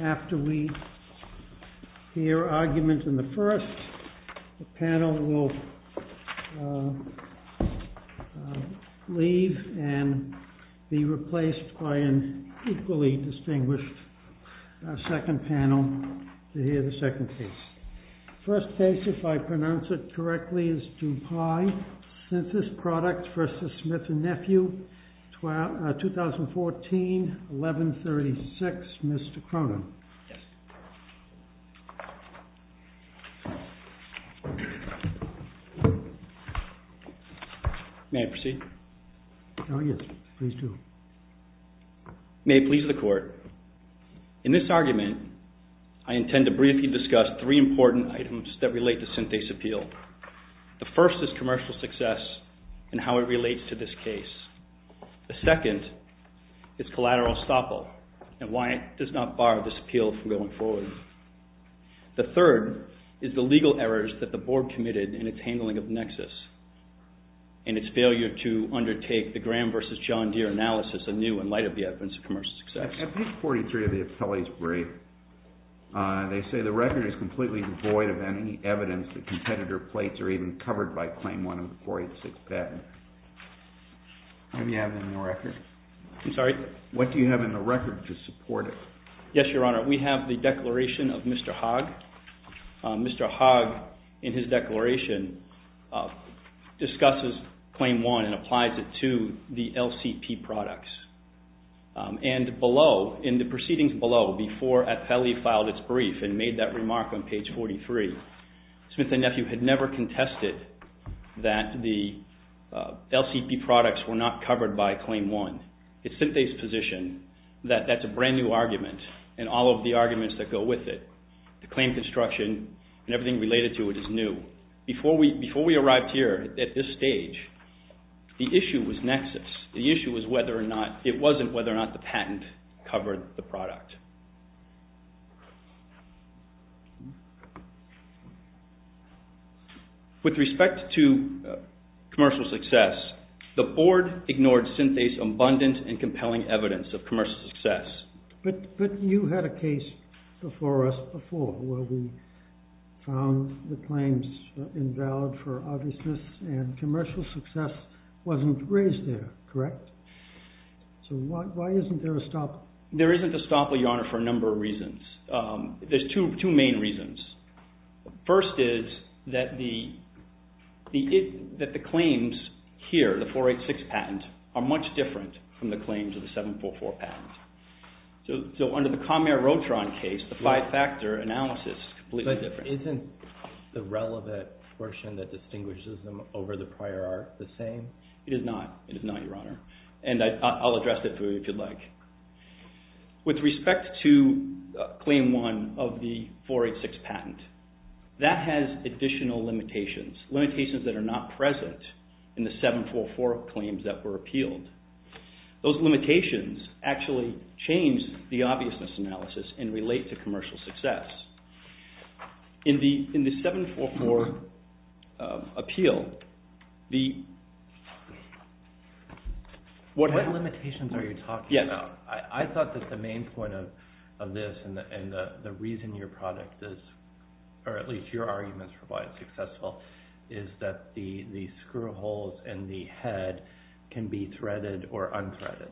After we hear argument in the first, the panel will leave and be replaced by an equally distinguished second panel to hear the second case. First case, if I pronounce it correctly, is Dupuy Synthes Products v. Smith & Nephew, 2014-11-36, Mr. Cronin. May I proceed? Yes, please do. May it please the court, in this argument, I intend to briefly discuss three important items that relate to Synthes' appeal. The first is commercial success and how it relates to this case. The second is collateral estoppel and why it does not bar this appeal from going forward. The third is the legal errors that the board committed in its handling of Nexus and its failure to undertake the Graham v. John Deere analysis anew in light of the evidence of commercial success. At page 43 of the appellee's brief, they say the record is completely devoid of any evidence that competitor plates are even covered by Claim 1 of the 486 patent. Do you have it in the record? I'm sorry? What do you have in the record to support it? Yes, Your Honor, we have the declaration of Mr. Hogg. Mr. Hogg, in his declaration, discusses Claim 1 and applies it to the LCP products. And below, in the proceedings below, before appellee filed its brief and made that remark on page 43, Smith and Nephew had never contested that the LCP products were not covered by Claim 1. It's simply its position that that's a brand new argument and all of the arguments that go with it. The claim construction and everything related to it is new. Before we arrived here at this stage, the issue was Nexus. The issue was whether or not, it wasn't whether or not the patent covered the product. With respect to commercial success, the board ignored Synthase's abundant and compelling evidence of commercial success. But you had a case before us before where we found the claims invalid for obviousness and commercial success wasn't raised there, correct? So why isn't there a stop? There isn't a stop, Your Honor, for a number of reasons. There's two main reasons. First is that the claims here, the 486 patent, are much different from the claims of the 744 patent. So under the Comair-Rotron case, the five-factor analysis is completely different. So isn't the relevant portion that distinguishes them over the prior art the same? It is not, Your Honor, and I'll address that for you if you'd like. With respect to Claim 1 of the 486 patent, that has additional limitations, limitations that are not present in the 744 claims that were appealed. Those limitations actually change the obviousness analysis and relate to commercial success. In the 744 appeal, the… What limitations are you talking about? I thought that the main point of this and the reason your product is, or at least your arguments for why it's successful, is that the screw holes in the head can be threaded or unthreaded.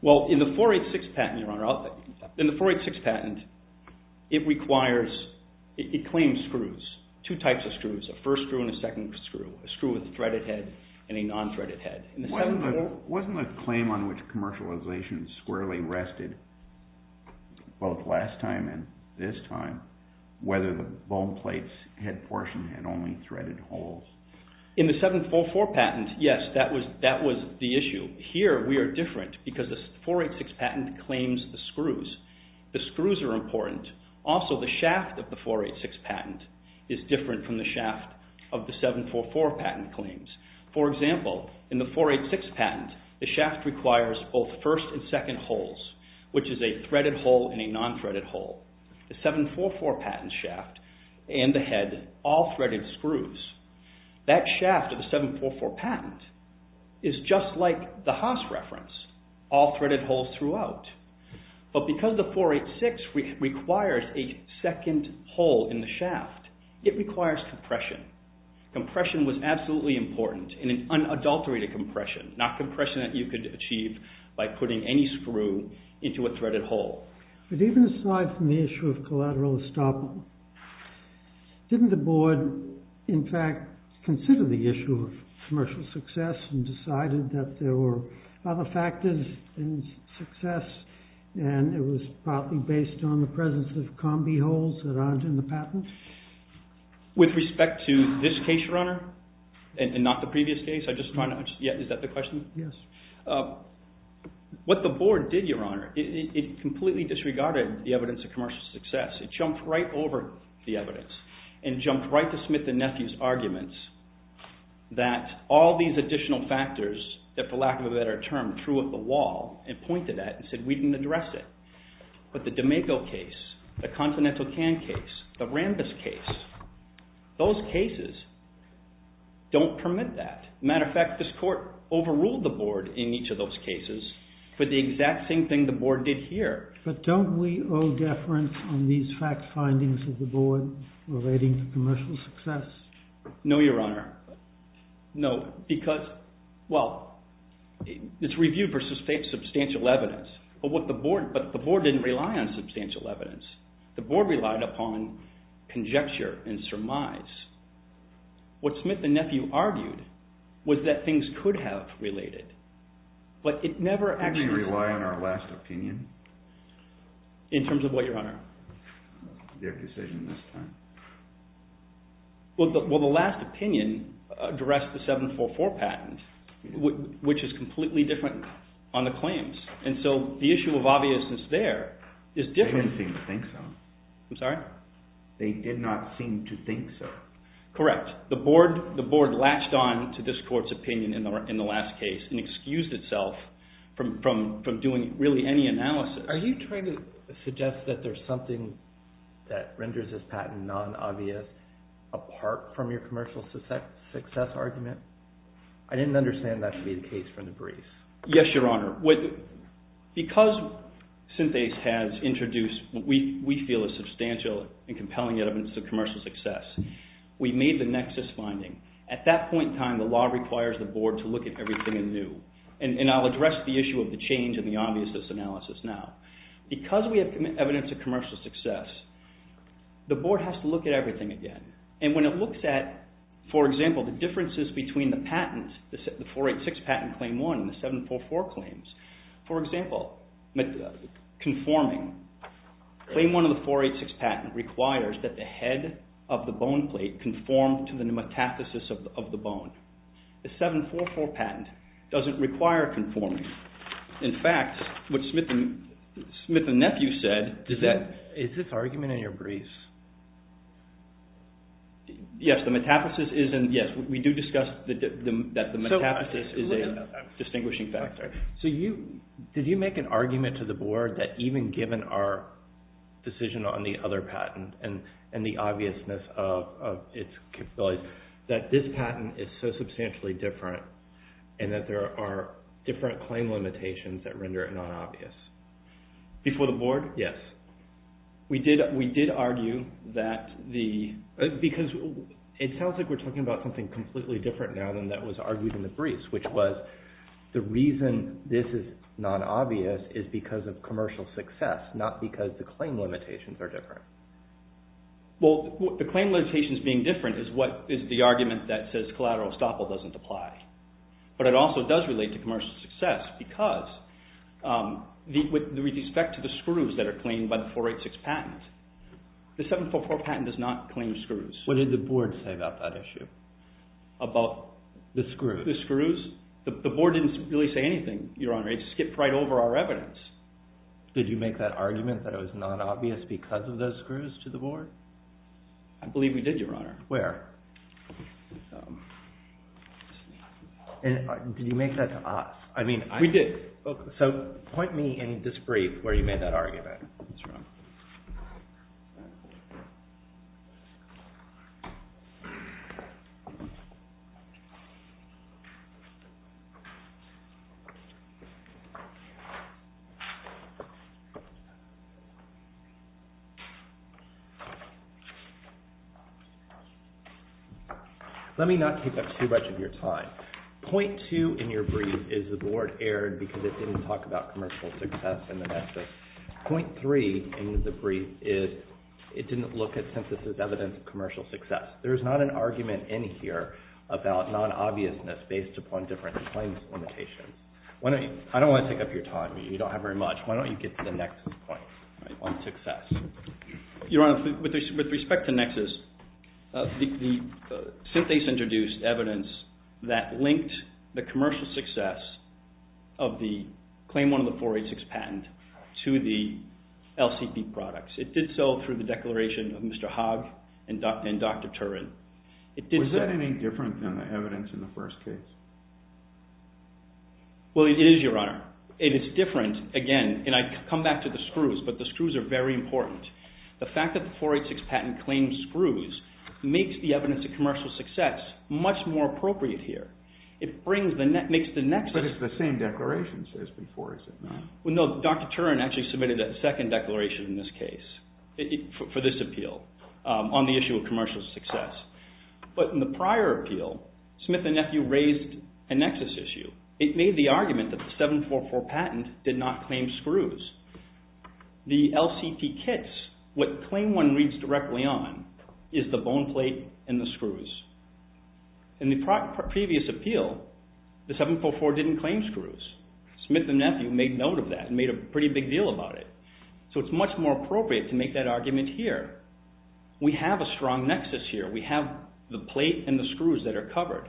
Well, in the 486 patent, it claims screws, two types of screws, a first screw and a second screw, a screw with a threaded head and a non-threaded head. Wasn't the claim on which commercialization squarely rested both last time and this time whether the bone plate's head portion had only threaded holes? In the 744 patent, yes, that was the issue. Here, we are different because the 486 patent claims the screws. The screws are important. Also, the shaft of the 486 patent is different from the shaft of the 744 patent claims. For example, in the 486 patent, the shaft requires both first and second holes, which is a threaded hole and a non-threaded hole. The 744 patent shaft and the head, all threaded screws. That shaft of the 744 patent is just like the Haas reference, all threaded holes throughout. But because the 486 requires a second hole in the shaft, it requires compression. Compression was absolutely important and an unadulterated compression, not compression that you could achieve by putting any screw into a threaded hole. Even aside from the issue of collateral estoppel, didn't the board, in fact, consider the issue of commercial success and decided that there were other factors in success and it was probably based on the presence of combi holes that aren't in the patent? With respect to this case, Your Honor, and not the previous case, is that the question? Yes. What the board did, Your Honor, it completely disregarded the evidence of commercial success. It jumped right over the evidence and jumped right to Smith and Nephew's arguments that all these additional factors that, for lack of a better term, threw up a wall and pointed at it and said we didn't address it. But the D'Amico case, the Continental Can case, the Rambis case, those cases don't permit that. As a matter of fact, this court overruled the board in each of those cases for the exact same thing the board did here. But don't we owe deference on these fact findings of the board relating to commercial success? No, Your Honor. No. Because, well, it's reviewed for substantial evidence, but the board didn't rely on substantial evidence. The board relied upon conjecture and surmise. What Smith and Nephew argued was that things could have related, but it never actually... Didn't they rely on our last opinion? In terms of what, Your Honor? Their decision this time. Well, the last opinion addressed the 744 patent, which is completely different on the claims. And so the issue of obviousness there is different. They didn't seem to think so. I'm sorry? They did not seem to think so. Correct. The board latched on to this court's opinion in the last case and excused itself from doing really any analysis. Are you trying to suggest that there's something that renders this patent non-obvious apart from your commercial success argument? I didn't understand that to be the case from the briefs. Yes, Your Honor. Because Synthase has introduced what we feel is substantial and compelling evidence of commercial success, we made the nexus finding. At that point in time, the law requires the board to look at everything anew. And I'll address the issue of the change in the obviousness analysis now. Because we have evidence of commercial success, the board has to look at everything again. And when it looks at, for example, the differences between the patents, the 486 patent claim 1 and the 744 claims. For example, conforming. Claim 1 of the 486 patent requires that the head of the bone plate conform to the metathesis of the bone. The 744 patent doesn't require conforming. In fact, what Smith and Nephew said is that... Is this argument in your briefs? Yes, we do discuss that the metathesis is a distinguishing factor. Did you make an argument to the board that even given our decision on the other patent and the obviousness of its capabilities, that this patent is so substantially different and that there are different claim limitations that render it not obvious? Before the board? Yes. We did argue that the... Because it sounds like we're talking about something completely different now than that was argued in the briefs, which was the reason this is not obvious is because of commercial success, not because the claim limitations are different. Well, the claim limitations being different is what is the argument that says collateral estoppel doesn't apply. But it also does relate to commercial success because with respect to the screws that are claimed by the 486 patent, the 744 patent does not claim screws. What did the board say about that issue? About? The screws. The screws? The board didn't really say anything, Your Honor. It skipped right over our evidence. Did you make that argument that it was not obvious because of those screws to the board? I believe we did, Your Honor. Where? Did you make that to us? We did. So point me in this brief where you made that argument. Let me not take up too much of your time. Point two in your brief is the board erred because it didn't talk about commercial success in the nexus. Point three in the brief is it didn't look at synthesis as evidence of commercial success. There is not an argument in here about non-obviousness based upon different claims limitations. I don't want to take up your time. You don't have very much. Why don't you get to the nexus point on success? Your Honor, with respect to nexus, the synthase introduced evidence that linked the commercial success of the Claim 1 of the 486 patent to the LCP products. It did so through the declaration of Mr. Hogg and Dr. Turin. Was that any different than the evidence in the first case? Well, it is, Your Honor. It is different, again, and I come back to the screws, but the screws are very important. The fact that the 486 patent claims screws makes the evidence of commercial success much more appropriate here. It makes the nexus... But it's the same declaration as before, is it not? Well, no. Dr. Turin actually submitted a second declaration in this case for this appeal on the issue of commercial success. But in the prior appeal, Smith and Nephew raised a nexus issue. It made the argument that the 744 patent did not claim screws. The LCP kits, what Claim 1 reads directly on, is the bone plate and the screws. In the previous appeal, the 744 didn't claim screws. Smith and Nephew made note of that and made a pretty big deal about it. So it's much more appropriate to make that argument here. We have a strong nexus here. We have the plate and the screws that are covered.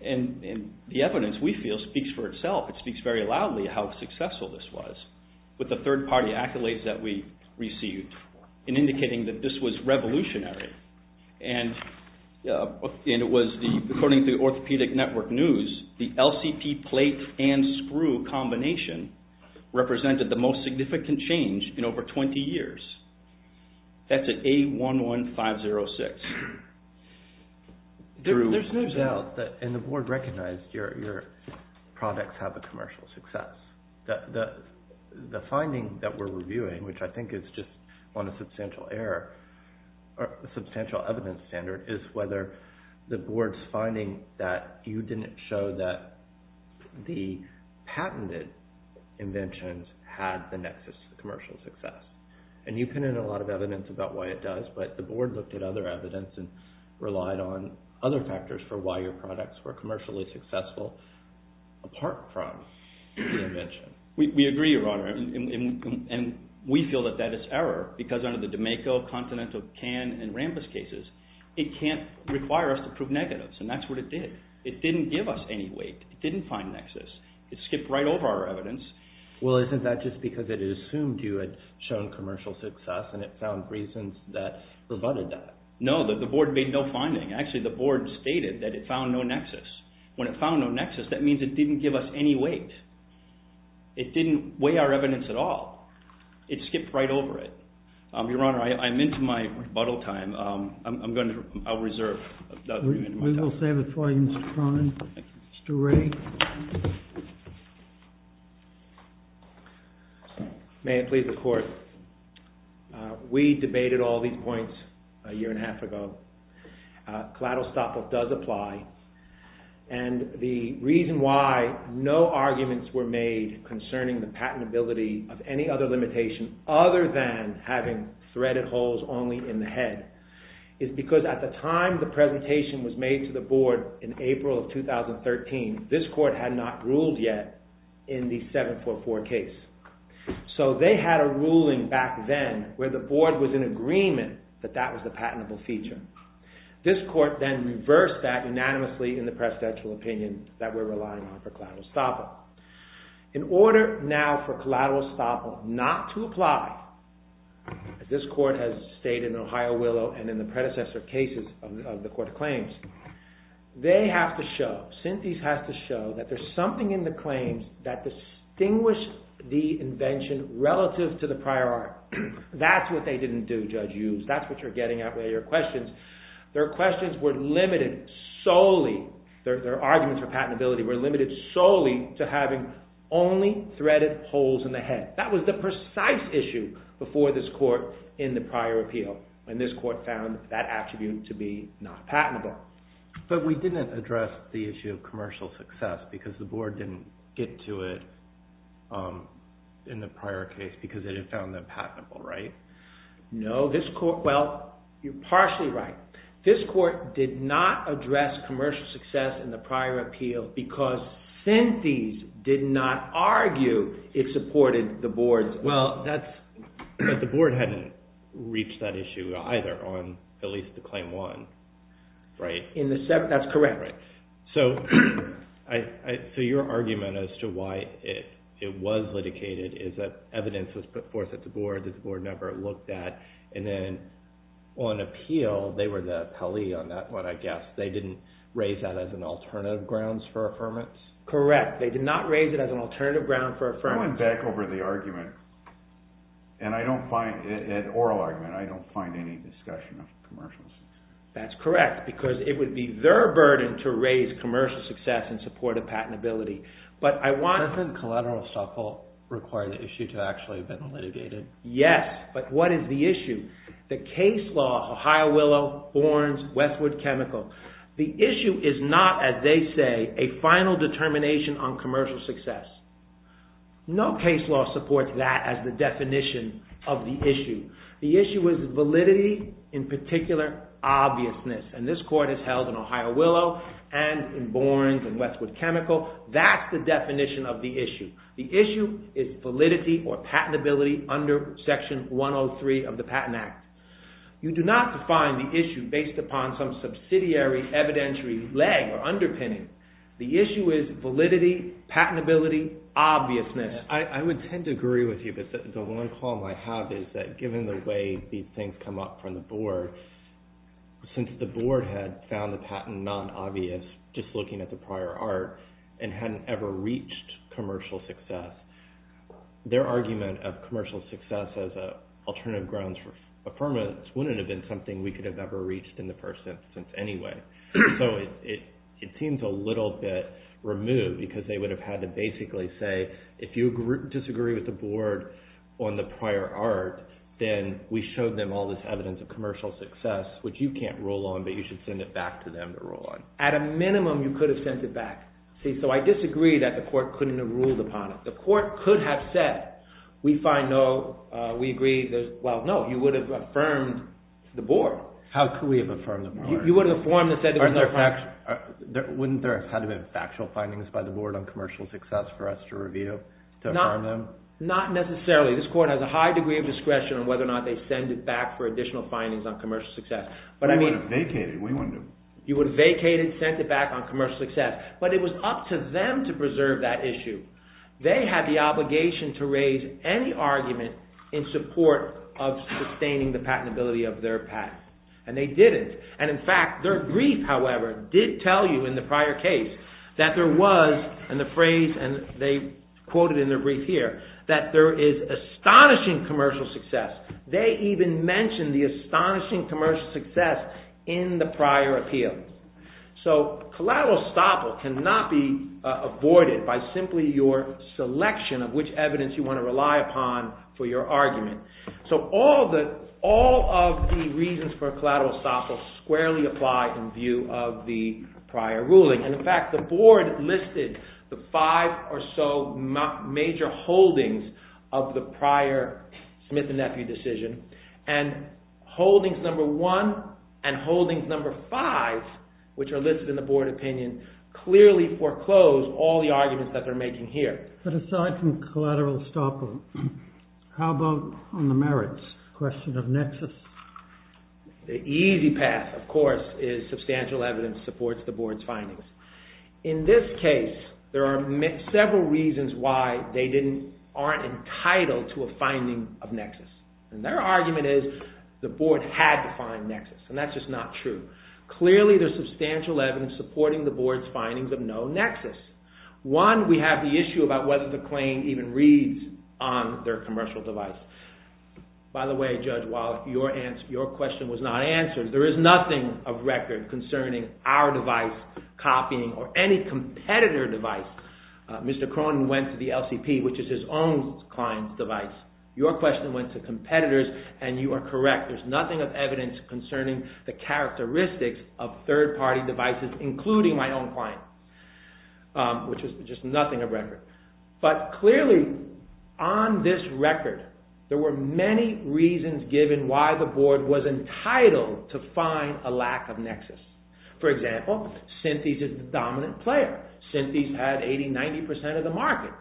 And the evidence, we feel, speaks for itself. It speaks very loudly how successful this was with the third-party accolades that we received in indicating that this was revolutionary. And it was, according to the Orthopedic Network news, the LCP plate and screw combination represented the most significant change in over 20 years. That's at A11506. There's news out, and the board recognized, your products have a commercial success. The finding that we're reviewing, which I think is just on a substantial error, a substantial evidence standard, is whether the board's finding that you didn't show that the patented inventions had the nexus to commercial success. And you put in a lot of evidence about why it does, but the board looked at other evidence and relied on other factors for why your products were commercially successful apart from the invention. We agree, Your Honor, and we feel that that is error because under the D'Amico, Continental, Cannes, and Rambus cases, it can't require us to prove negatives, and that's what it did. It didn't give us any weight. It didn't find nexus. It skipped right over our evidence. Well, isn't that just because it assumed you had shown commercial success and it found reasons that rebutted that? No, the board made no finding. Actually, the board stated that it found no nexus. When it found no nexus, that means it didn't give us any weight. It didn't weigh our evidence at all. It skipped right over it. Your Honor, I'm into my rebuttal time. I'm going to reserve. We will save it for you, Mr. Cronin. Thank you. Mr. Wray. Thank you. May it please the Court. We debated all these points a year and a half ago. Collateral stop-off does apply, and the reason why no arguments were made concerning the patentability of any other limitation other than having threaded holes only in the head is because at the time the presentation was made to the board in April of 2013, this Court had not ruled yet in the 744 case. So they had a ruling back then where the board was in agreement that that was the patentable feature. This Court then reversed that unanimously in the presidential opinion that we're relying on for collateral stop-off. In order now for collateral stop-off not to apply, as this Court has stated in Ohio Willow and in the predecessor cases of the Court of Claims, they have to show, Synthes has to show, that there's something in the claims that distinguished the invention relative to the prior art. That's what they didn't do, Judge Hughes. That's what you're getting at with your questions. Their questions were limited solely, their arguments for patentability were limited solely to having only threaded holes in the head. That was the precise issue before this Court in the prior appeal. And this Court found that attribute to be not patentable. But we didn't address the issue of commercial success because the board didn't get to it in the prior case because it had found that patentable, right? No, this Court, well, you're partially right. This Court did not address commercial success in the prior appeal because Synthes did not argue it supported the board's... Well, the board hadn't reached that issue either on at least the Claim 1, right? That's correct. So your argument as to why it was litigated is that evidence was put forth at the board that the board never looked at, and then on appeal, they were the appellee on that one, I guess. They didn't raise that as an alternative grounds for affirmance? Correct. They did not raise it as an alternative ground for affirmance. I went back over the argument, and I don't find, the oral argument, I don't find any discussion of commercial success. That's correct, because it would be their burden to raise commercial success in support of patentability. But I want... Doesn't collateral stockhold require the issue to actually have been litigated? Yes, but what is the issue? The case law, Ohio Willow, Borns, Westwood Chemical. The issue is not, as they say, a final determination on commercial success. No case law supports that as the definition of the issue. The issue is validity, in particular, obviousness. And this court is held in Ohio Willow and in Borns and Westwood Chemical. That's the definition of the issue. The issue is validity or patentability under Section 103 of the Patent Act. You do not define the issue based upon some subsidiary evidentiary leg or underpinning. The issue is validity, patentability, obviousness. I would tend to agree with you, but the one call I have is that given the way these things come up from the board, since the board had found the patent non-obvious just looking at the prior art and hadn't ever reached commercial success, their argument of commercial success as an alternative grounds for affirmance wouldn't have been something we could have ever reached in the first instance anyway. So it seems a little bit removed because they would have had to basically say if you disagree with the board on the prior art, then we showed them all this evidence of commercial success, which you can't rule on, but you should send it back to them to rule on. At a minimum, you could have sent it back. So I disagree that the court couldn't have ruled upon it. The court could have said, we find no, we agree, well, no. You would have affirmed the board. How could we have affirmed the board? You would have affirmed it. Wouldn't there have had to be factual findings by the board on commercial success for us to review, to affirm them? Not necessarily. This court has a high degree of discretion on whether or not they send it back for additional findings on commercial success. We would have vacated. You would have vacated, sent it back on commercial success. But it was up to them to preserve that issue. They had the obligation to raise any argument in support of sustaining the patentability of their patent. And they didn't. And in fact, their brief, however, did tell you in the prior case that there was, and the phrase, and they quoted in their brief here, that there is astonishing commercial success. They even mentioned the astonishing commercial success in the prior appeal. So collateral estoppel cannot be avoided by simply your selection of which evidence you want to rely upon for your argument. So all of the reasons for collateral estoppel squarely apply in view of the prior ruling. And in fact, the board listed the five or so major holdings of the prior Smith and Nephew decision. And holdings number one and holdings number five, which are listed in the board opinion, clearly foreclose all the arguments that they're making here. But aside from collateral estoppel, how about on the merits question of nexus? The easy path, of course, is substantial evidence supports the board's findings. In this case, there are several reasons why they aren't entitled to a finding of nexus. And their argument is the board had to find nexus. And that's just not true. Clearly, there's substantial evidence supporting the board's findings of no nexus. One, we have the issue about whether the claim even reads on their commercial device. By the way, Judge Wallach, your question was not answered. There is nothing of record concerning our device copying or any competitor device. Mr. Cronin went to the LCP, which is his own client's device. Your question went to competitors, and you are correct. There's nothing of evidence concerning the characteristics of third-party devices, including my own client, which is just nothing of record. But clearly, on this record, there were many reasons given why the board was entitled to find a lack of nexus. For example, Synthes is the dominant player. Synthes had 80, 90% of the market.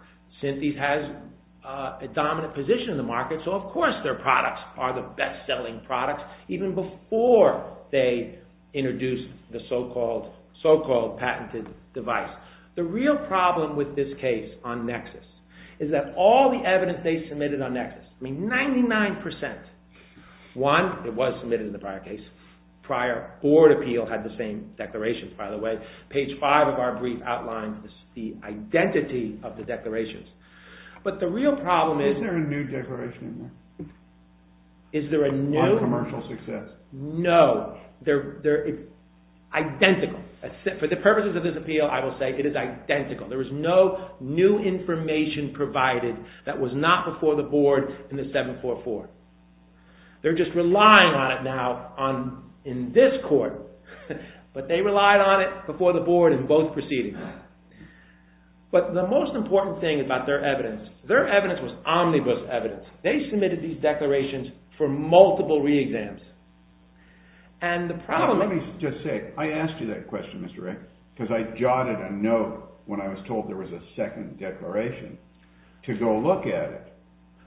Synthes has a dominant position in the market, so of course their products are the best-selling products even before they introduced the so-called patented device. The real problem with this case on nexus is that all the evidence they submitted on nexus, I mean 99%, one, it was submitted in the prior case, prior board appeal had the same declarations. By the way, page 5 of our brief outlines the identity of the declarations. But the real problem is... Is there a new declaration in there? Is there a new... On commercial success. No. Identical. For the purposes of this appeal, I will say it is identical. There is no new information provided that was not before the board in the 744. They're just relying on it now in this court, but they relied on it before the board in both proceedings. But the most important thing about their evidence, their evidence was omnibus evidence. They submitted these declarations for multiple re-exams. And the problem... Let me just say, I asked you that question, Mr. Rick, because I jotted a note when I was told there was a second declaration to go look at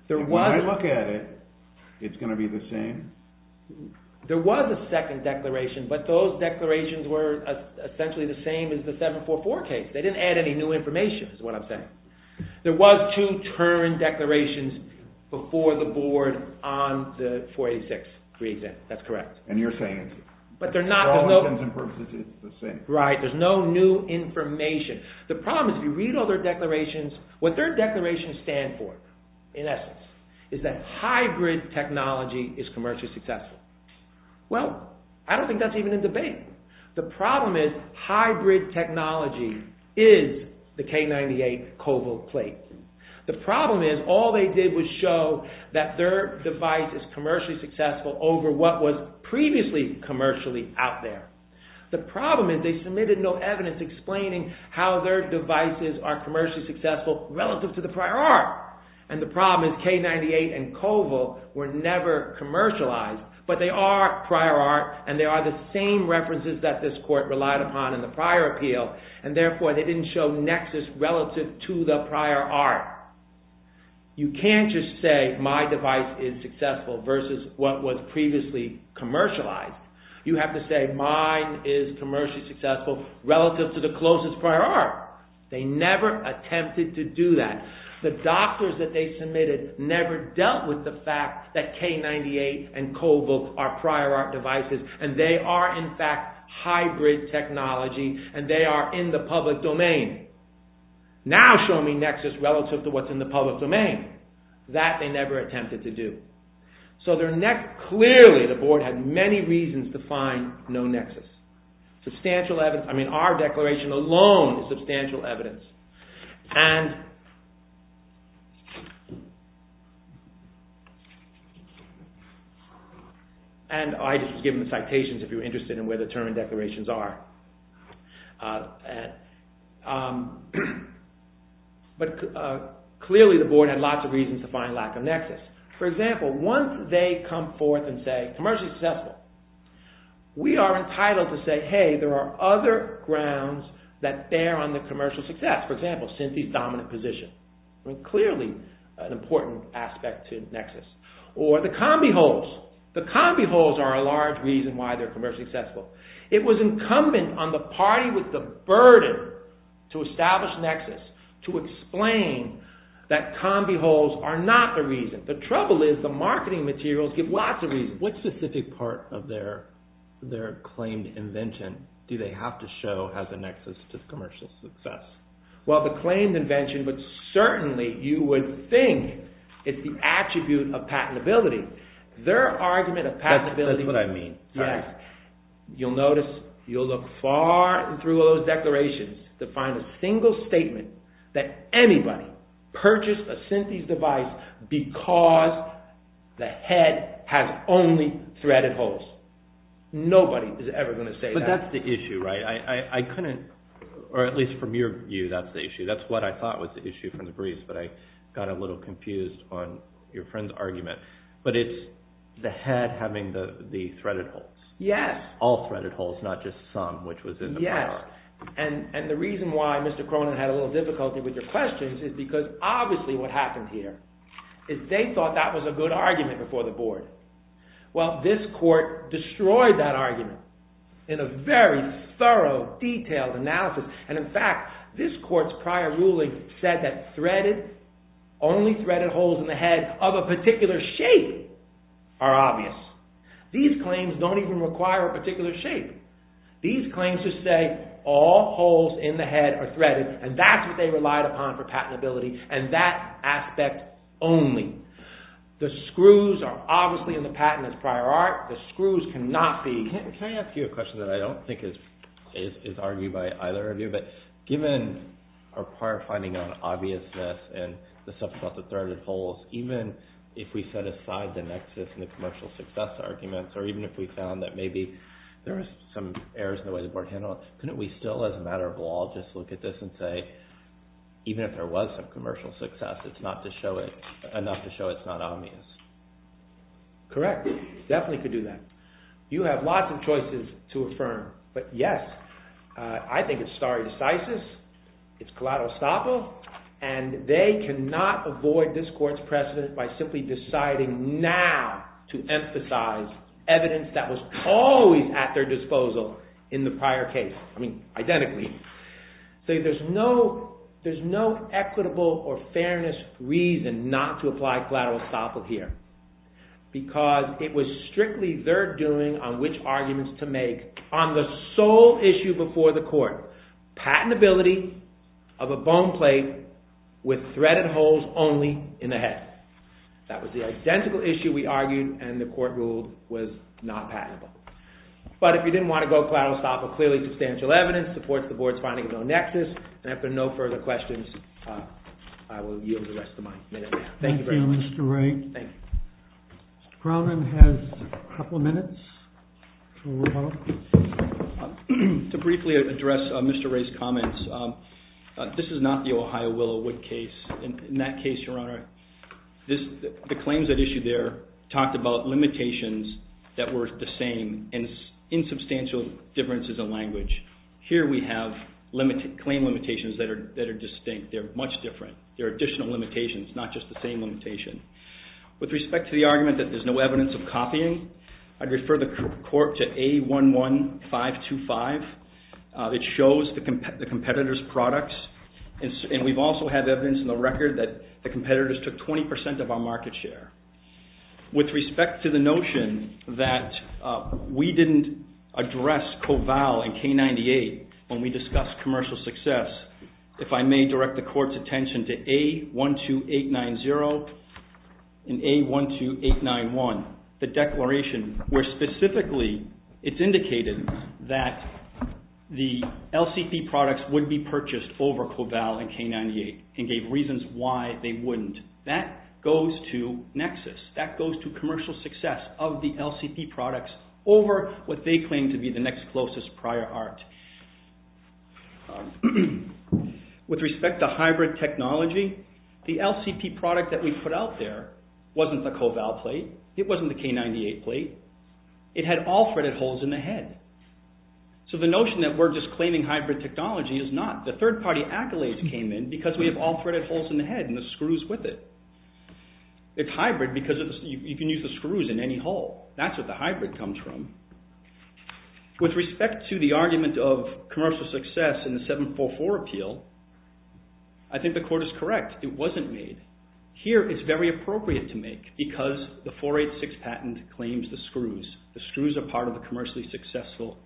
it. When I look at it, it's going to be the same? There was a second declaration, but those declarations were essentially the same as the 744 case. They didn't add any new information, is what I'm saying. There was two term declarations before the board on the 486 re-exam. That's correct. And you're saying that for all intents and purposes it's the same? Right, there's no new information. The problem is, if you read all their declarations, what their declarations stand for, in essence, is that hybrid technology is commercially successful. Well, I don't think that's even a debate. The problem is, hybrid technology is the K-98 cobalt plate. The problem is, all they did was show that their device is commercially successful over what was previously commercially out there. The problem is, they submitted no evidence explaining how their devices are commercially successful relative to the prior art. And the problem is, K-98 and cobalt were never commercialized, but they are prior art, and they are the same references that this court relied upon in the prior appeal, and therefore they didn't show nexus relative to the prior art. You can't just say, my device is successful versus what was previously commercialized. You have to say, mine is commercially successful relative to the closest prior art. They never attempted to do that. The doctors that they submitted never dealt with the fact that K-98 and cobalt are prior art devices, and they are in fact hybrid technology, and they are in the public domain. Now show me nexus relative to what's in the public domain. That they never attempted to do. So clearly the board had many reasons to find no nexus. I mean our declaration alone is substantial evidence. And I just give them the citations if you're interested in where the term and declarations are. But clearly the board had lots of reasons to find lack of nexus. For example, once they come forth and say commercially successful, we are entitled to say, hey there are other grounds that bear on the commercial success. For example, Cynthia's dominant position. Clearly an important aspect to nexus. Or the combi holes. The combi holes are a large reason why they're commercially successful. It was incumbent on the party with the burden to establish nexus to explain that combi holes are not the reason. The trouble is the marketing materials give lots of reasons. What specific part of their claimed invention do they have to show has a nexus to commercial success? Well the claimed invention, but certainly you would think it's the attribute of patentability. Their argument of patentability... That's what I mean. You'll notice, you'll look far through those declarations to find a single statement that anybody purchased a Cynthia's device because the head has only threaded holes. Nobody is ever going to say that. But that's the issue, right? I couldn't... Or at least from your view, that's the issue. That's what I thought was the issue from the briefs, but I got a little confused on your friend's argument. But it's the head having the threaded holes. Yes. All threaded holes, not just some, which was in the prior. Yes. And the reason why Mr. Cronin had a little difficulty with your questions is because obviously what happened here is they thought that was a good argument before the board. Well this court destroyed that argument in a very thorough, detailed analysis. And in fact, this court's prior ruling said that threaded, only threaded holes in the head of a particular shape are obvious. These claims don't even require a particular shape. These claims just say all holes in the head are threaded and that's what they relied upon for patentability and that aspect only. The screws are obviously in the patent as prior art. The screws cannot be... Can I ask you a question that I don't think is argued by either of you? But given our prior finding on obviousness and the stuff about the threaded holes, even if we set aside the nexus and the commercial success arguments or even if we found that maybe there was some errors in the way the board handled it, couldn't we still, as a matter of law, just look at this and say even if there was some commercial success, it's not enough to show it's not obvious? Correct. Definitely could do that. You have lots of choices to affirm, but yes, I think it's stare decisis, it's collateral estoppel, and they cannot avoid this court's precedent by simply deciding now to emphasize evidence that was always at their disposal in the prior case. Identically. There's no equitable or fairness reason not to apply collateral estoppel here because it was strictly their doing on which arguments to make on the sole issue before the court. Patentability of a bone plate with threaded holes only in the head. That was the identical issue we argued and the court ruled was not patentable. But if you didn't want to go collateral estoppel, clearly substantial evidence supports the board's finding its own nexus and after no further questions I will yield the rest of my minute now. Thank you very much. Thank you Mr. Wray. Thank you. Mr. Crownman has a couple of minutes to revoke. To briefly address Mr. Wray's comments, this is not the Ohio Willow Wood case. In that case, Your Honor, the claims at issue there talked about limitations that were the same and insubstantial differences in language. Here we have claim limitations that are distinct. They're much different. There are additional limitations not just the same limitation. With respect to the argument that there's no evidence of copying, I'd refer the court to A11525. It shows the competitor's products and we've also had evidence in the record that the competitors took 20% of our market share. With respect to the notion that we didn't address Coval and K98 when we discussed commercial success, if I may direct the court's attention to A12890 and A12891, the declaration where specifically it's indicated that the LCP products would be purchased over Coval and K98 and gave reasons why they wouldn't. That goes to nexus. That goes to commercial success of the LCP products over what they claim to be the next closest prior art. With respect to hybrid technology, the LCP product that we put out there wasn't the Coval plate. It wasn't the K98 plate. It had all threaded holes in the head. So the notion that we're just claiming hybrid technology is not. The third-party accolades came in because we have all threaded holes in the head and the screws with it. It's hybrid because you can use the screws in any hole. That's where the hybrid comes from. With respect to the argument of commercial success in the 744 appeal, I think the court is correct. It wasn't made. Here, it's very appropriate to make because the 486 patent claims the screws. The screws are part of the commercially successful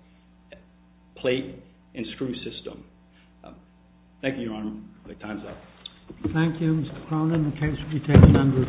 plate and screw system. Thank you, Your Honor. The time's up. Thank you, Mr. Cronin. The case will be taken under advisory.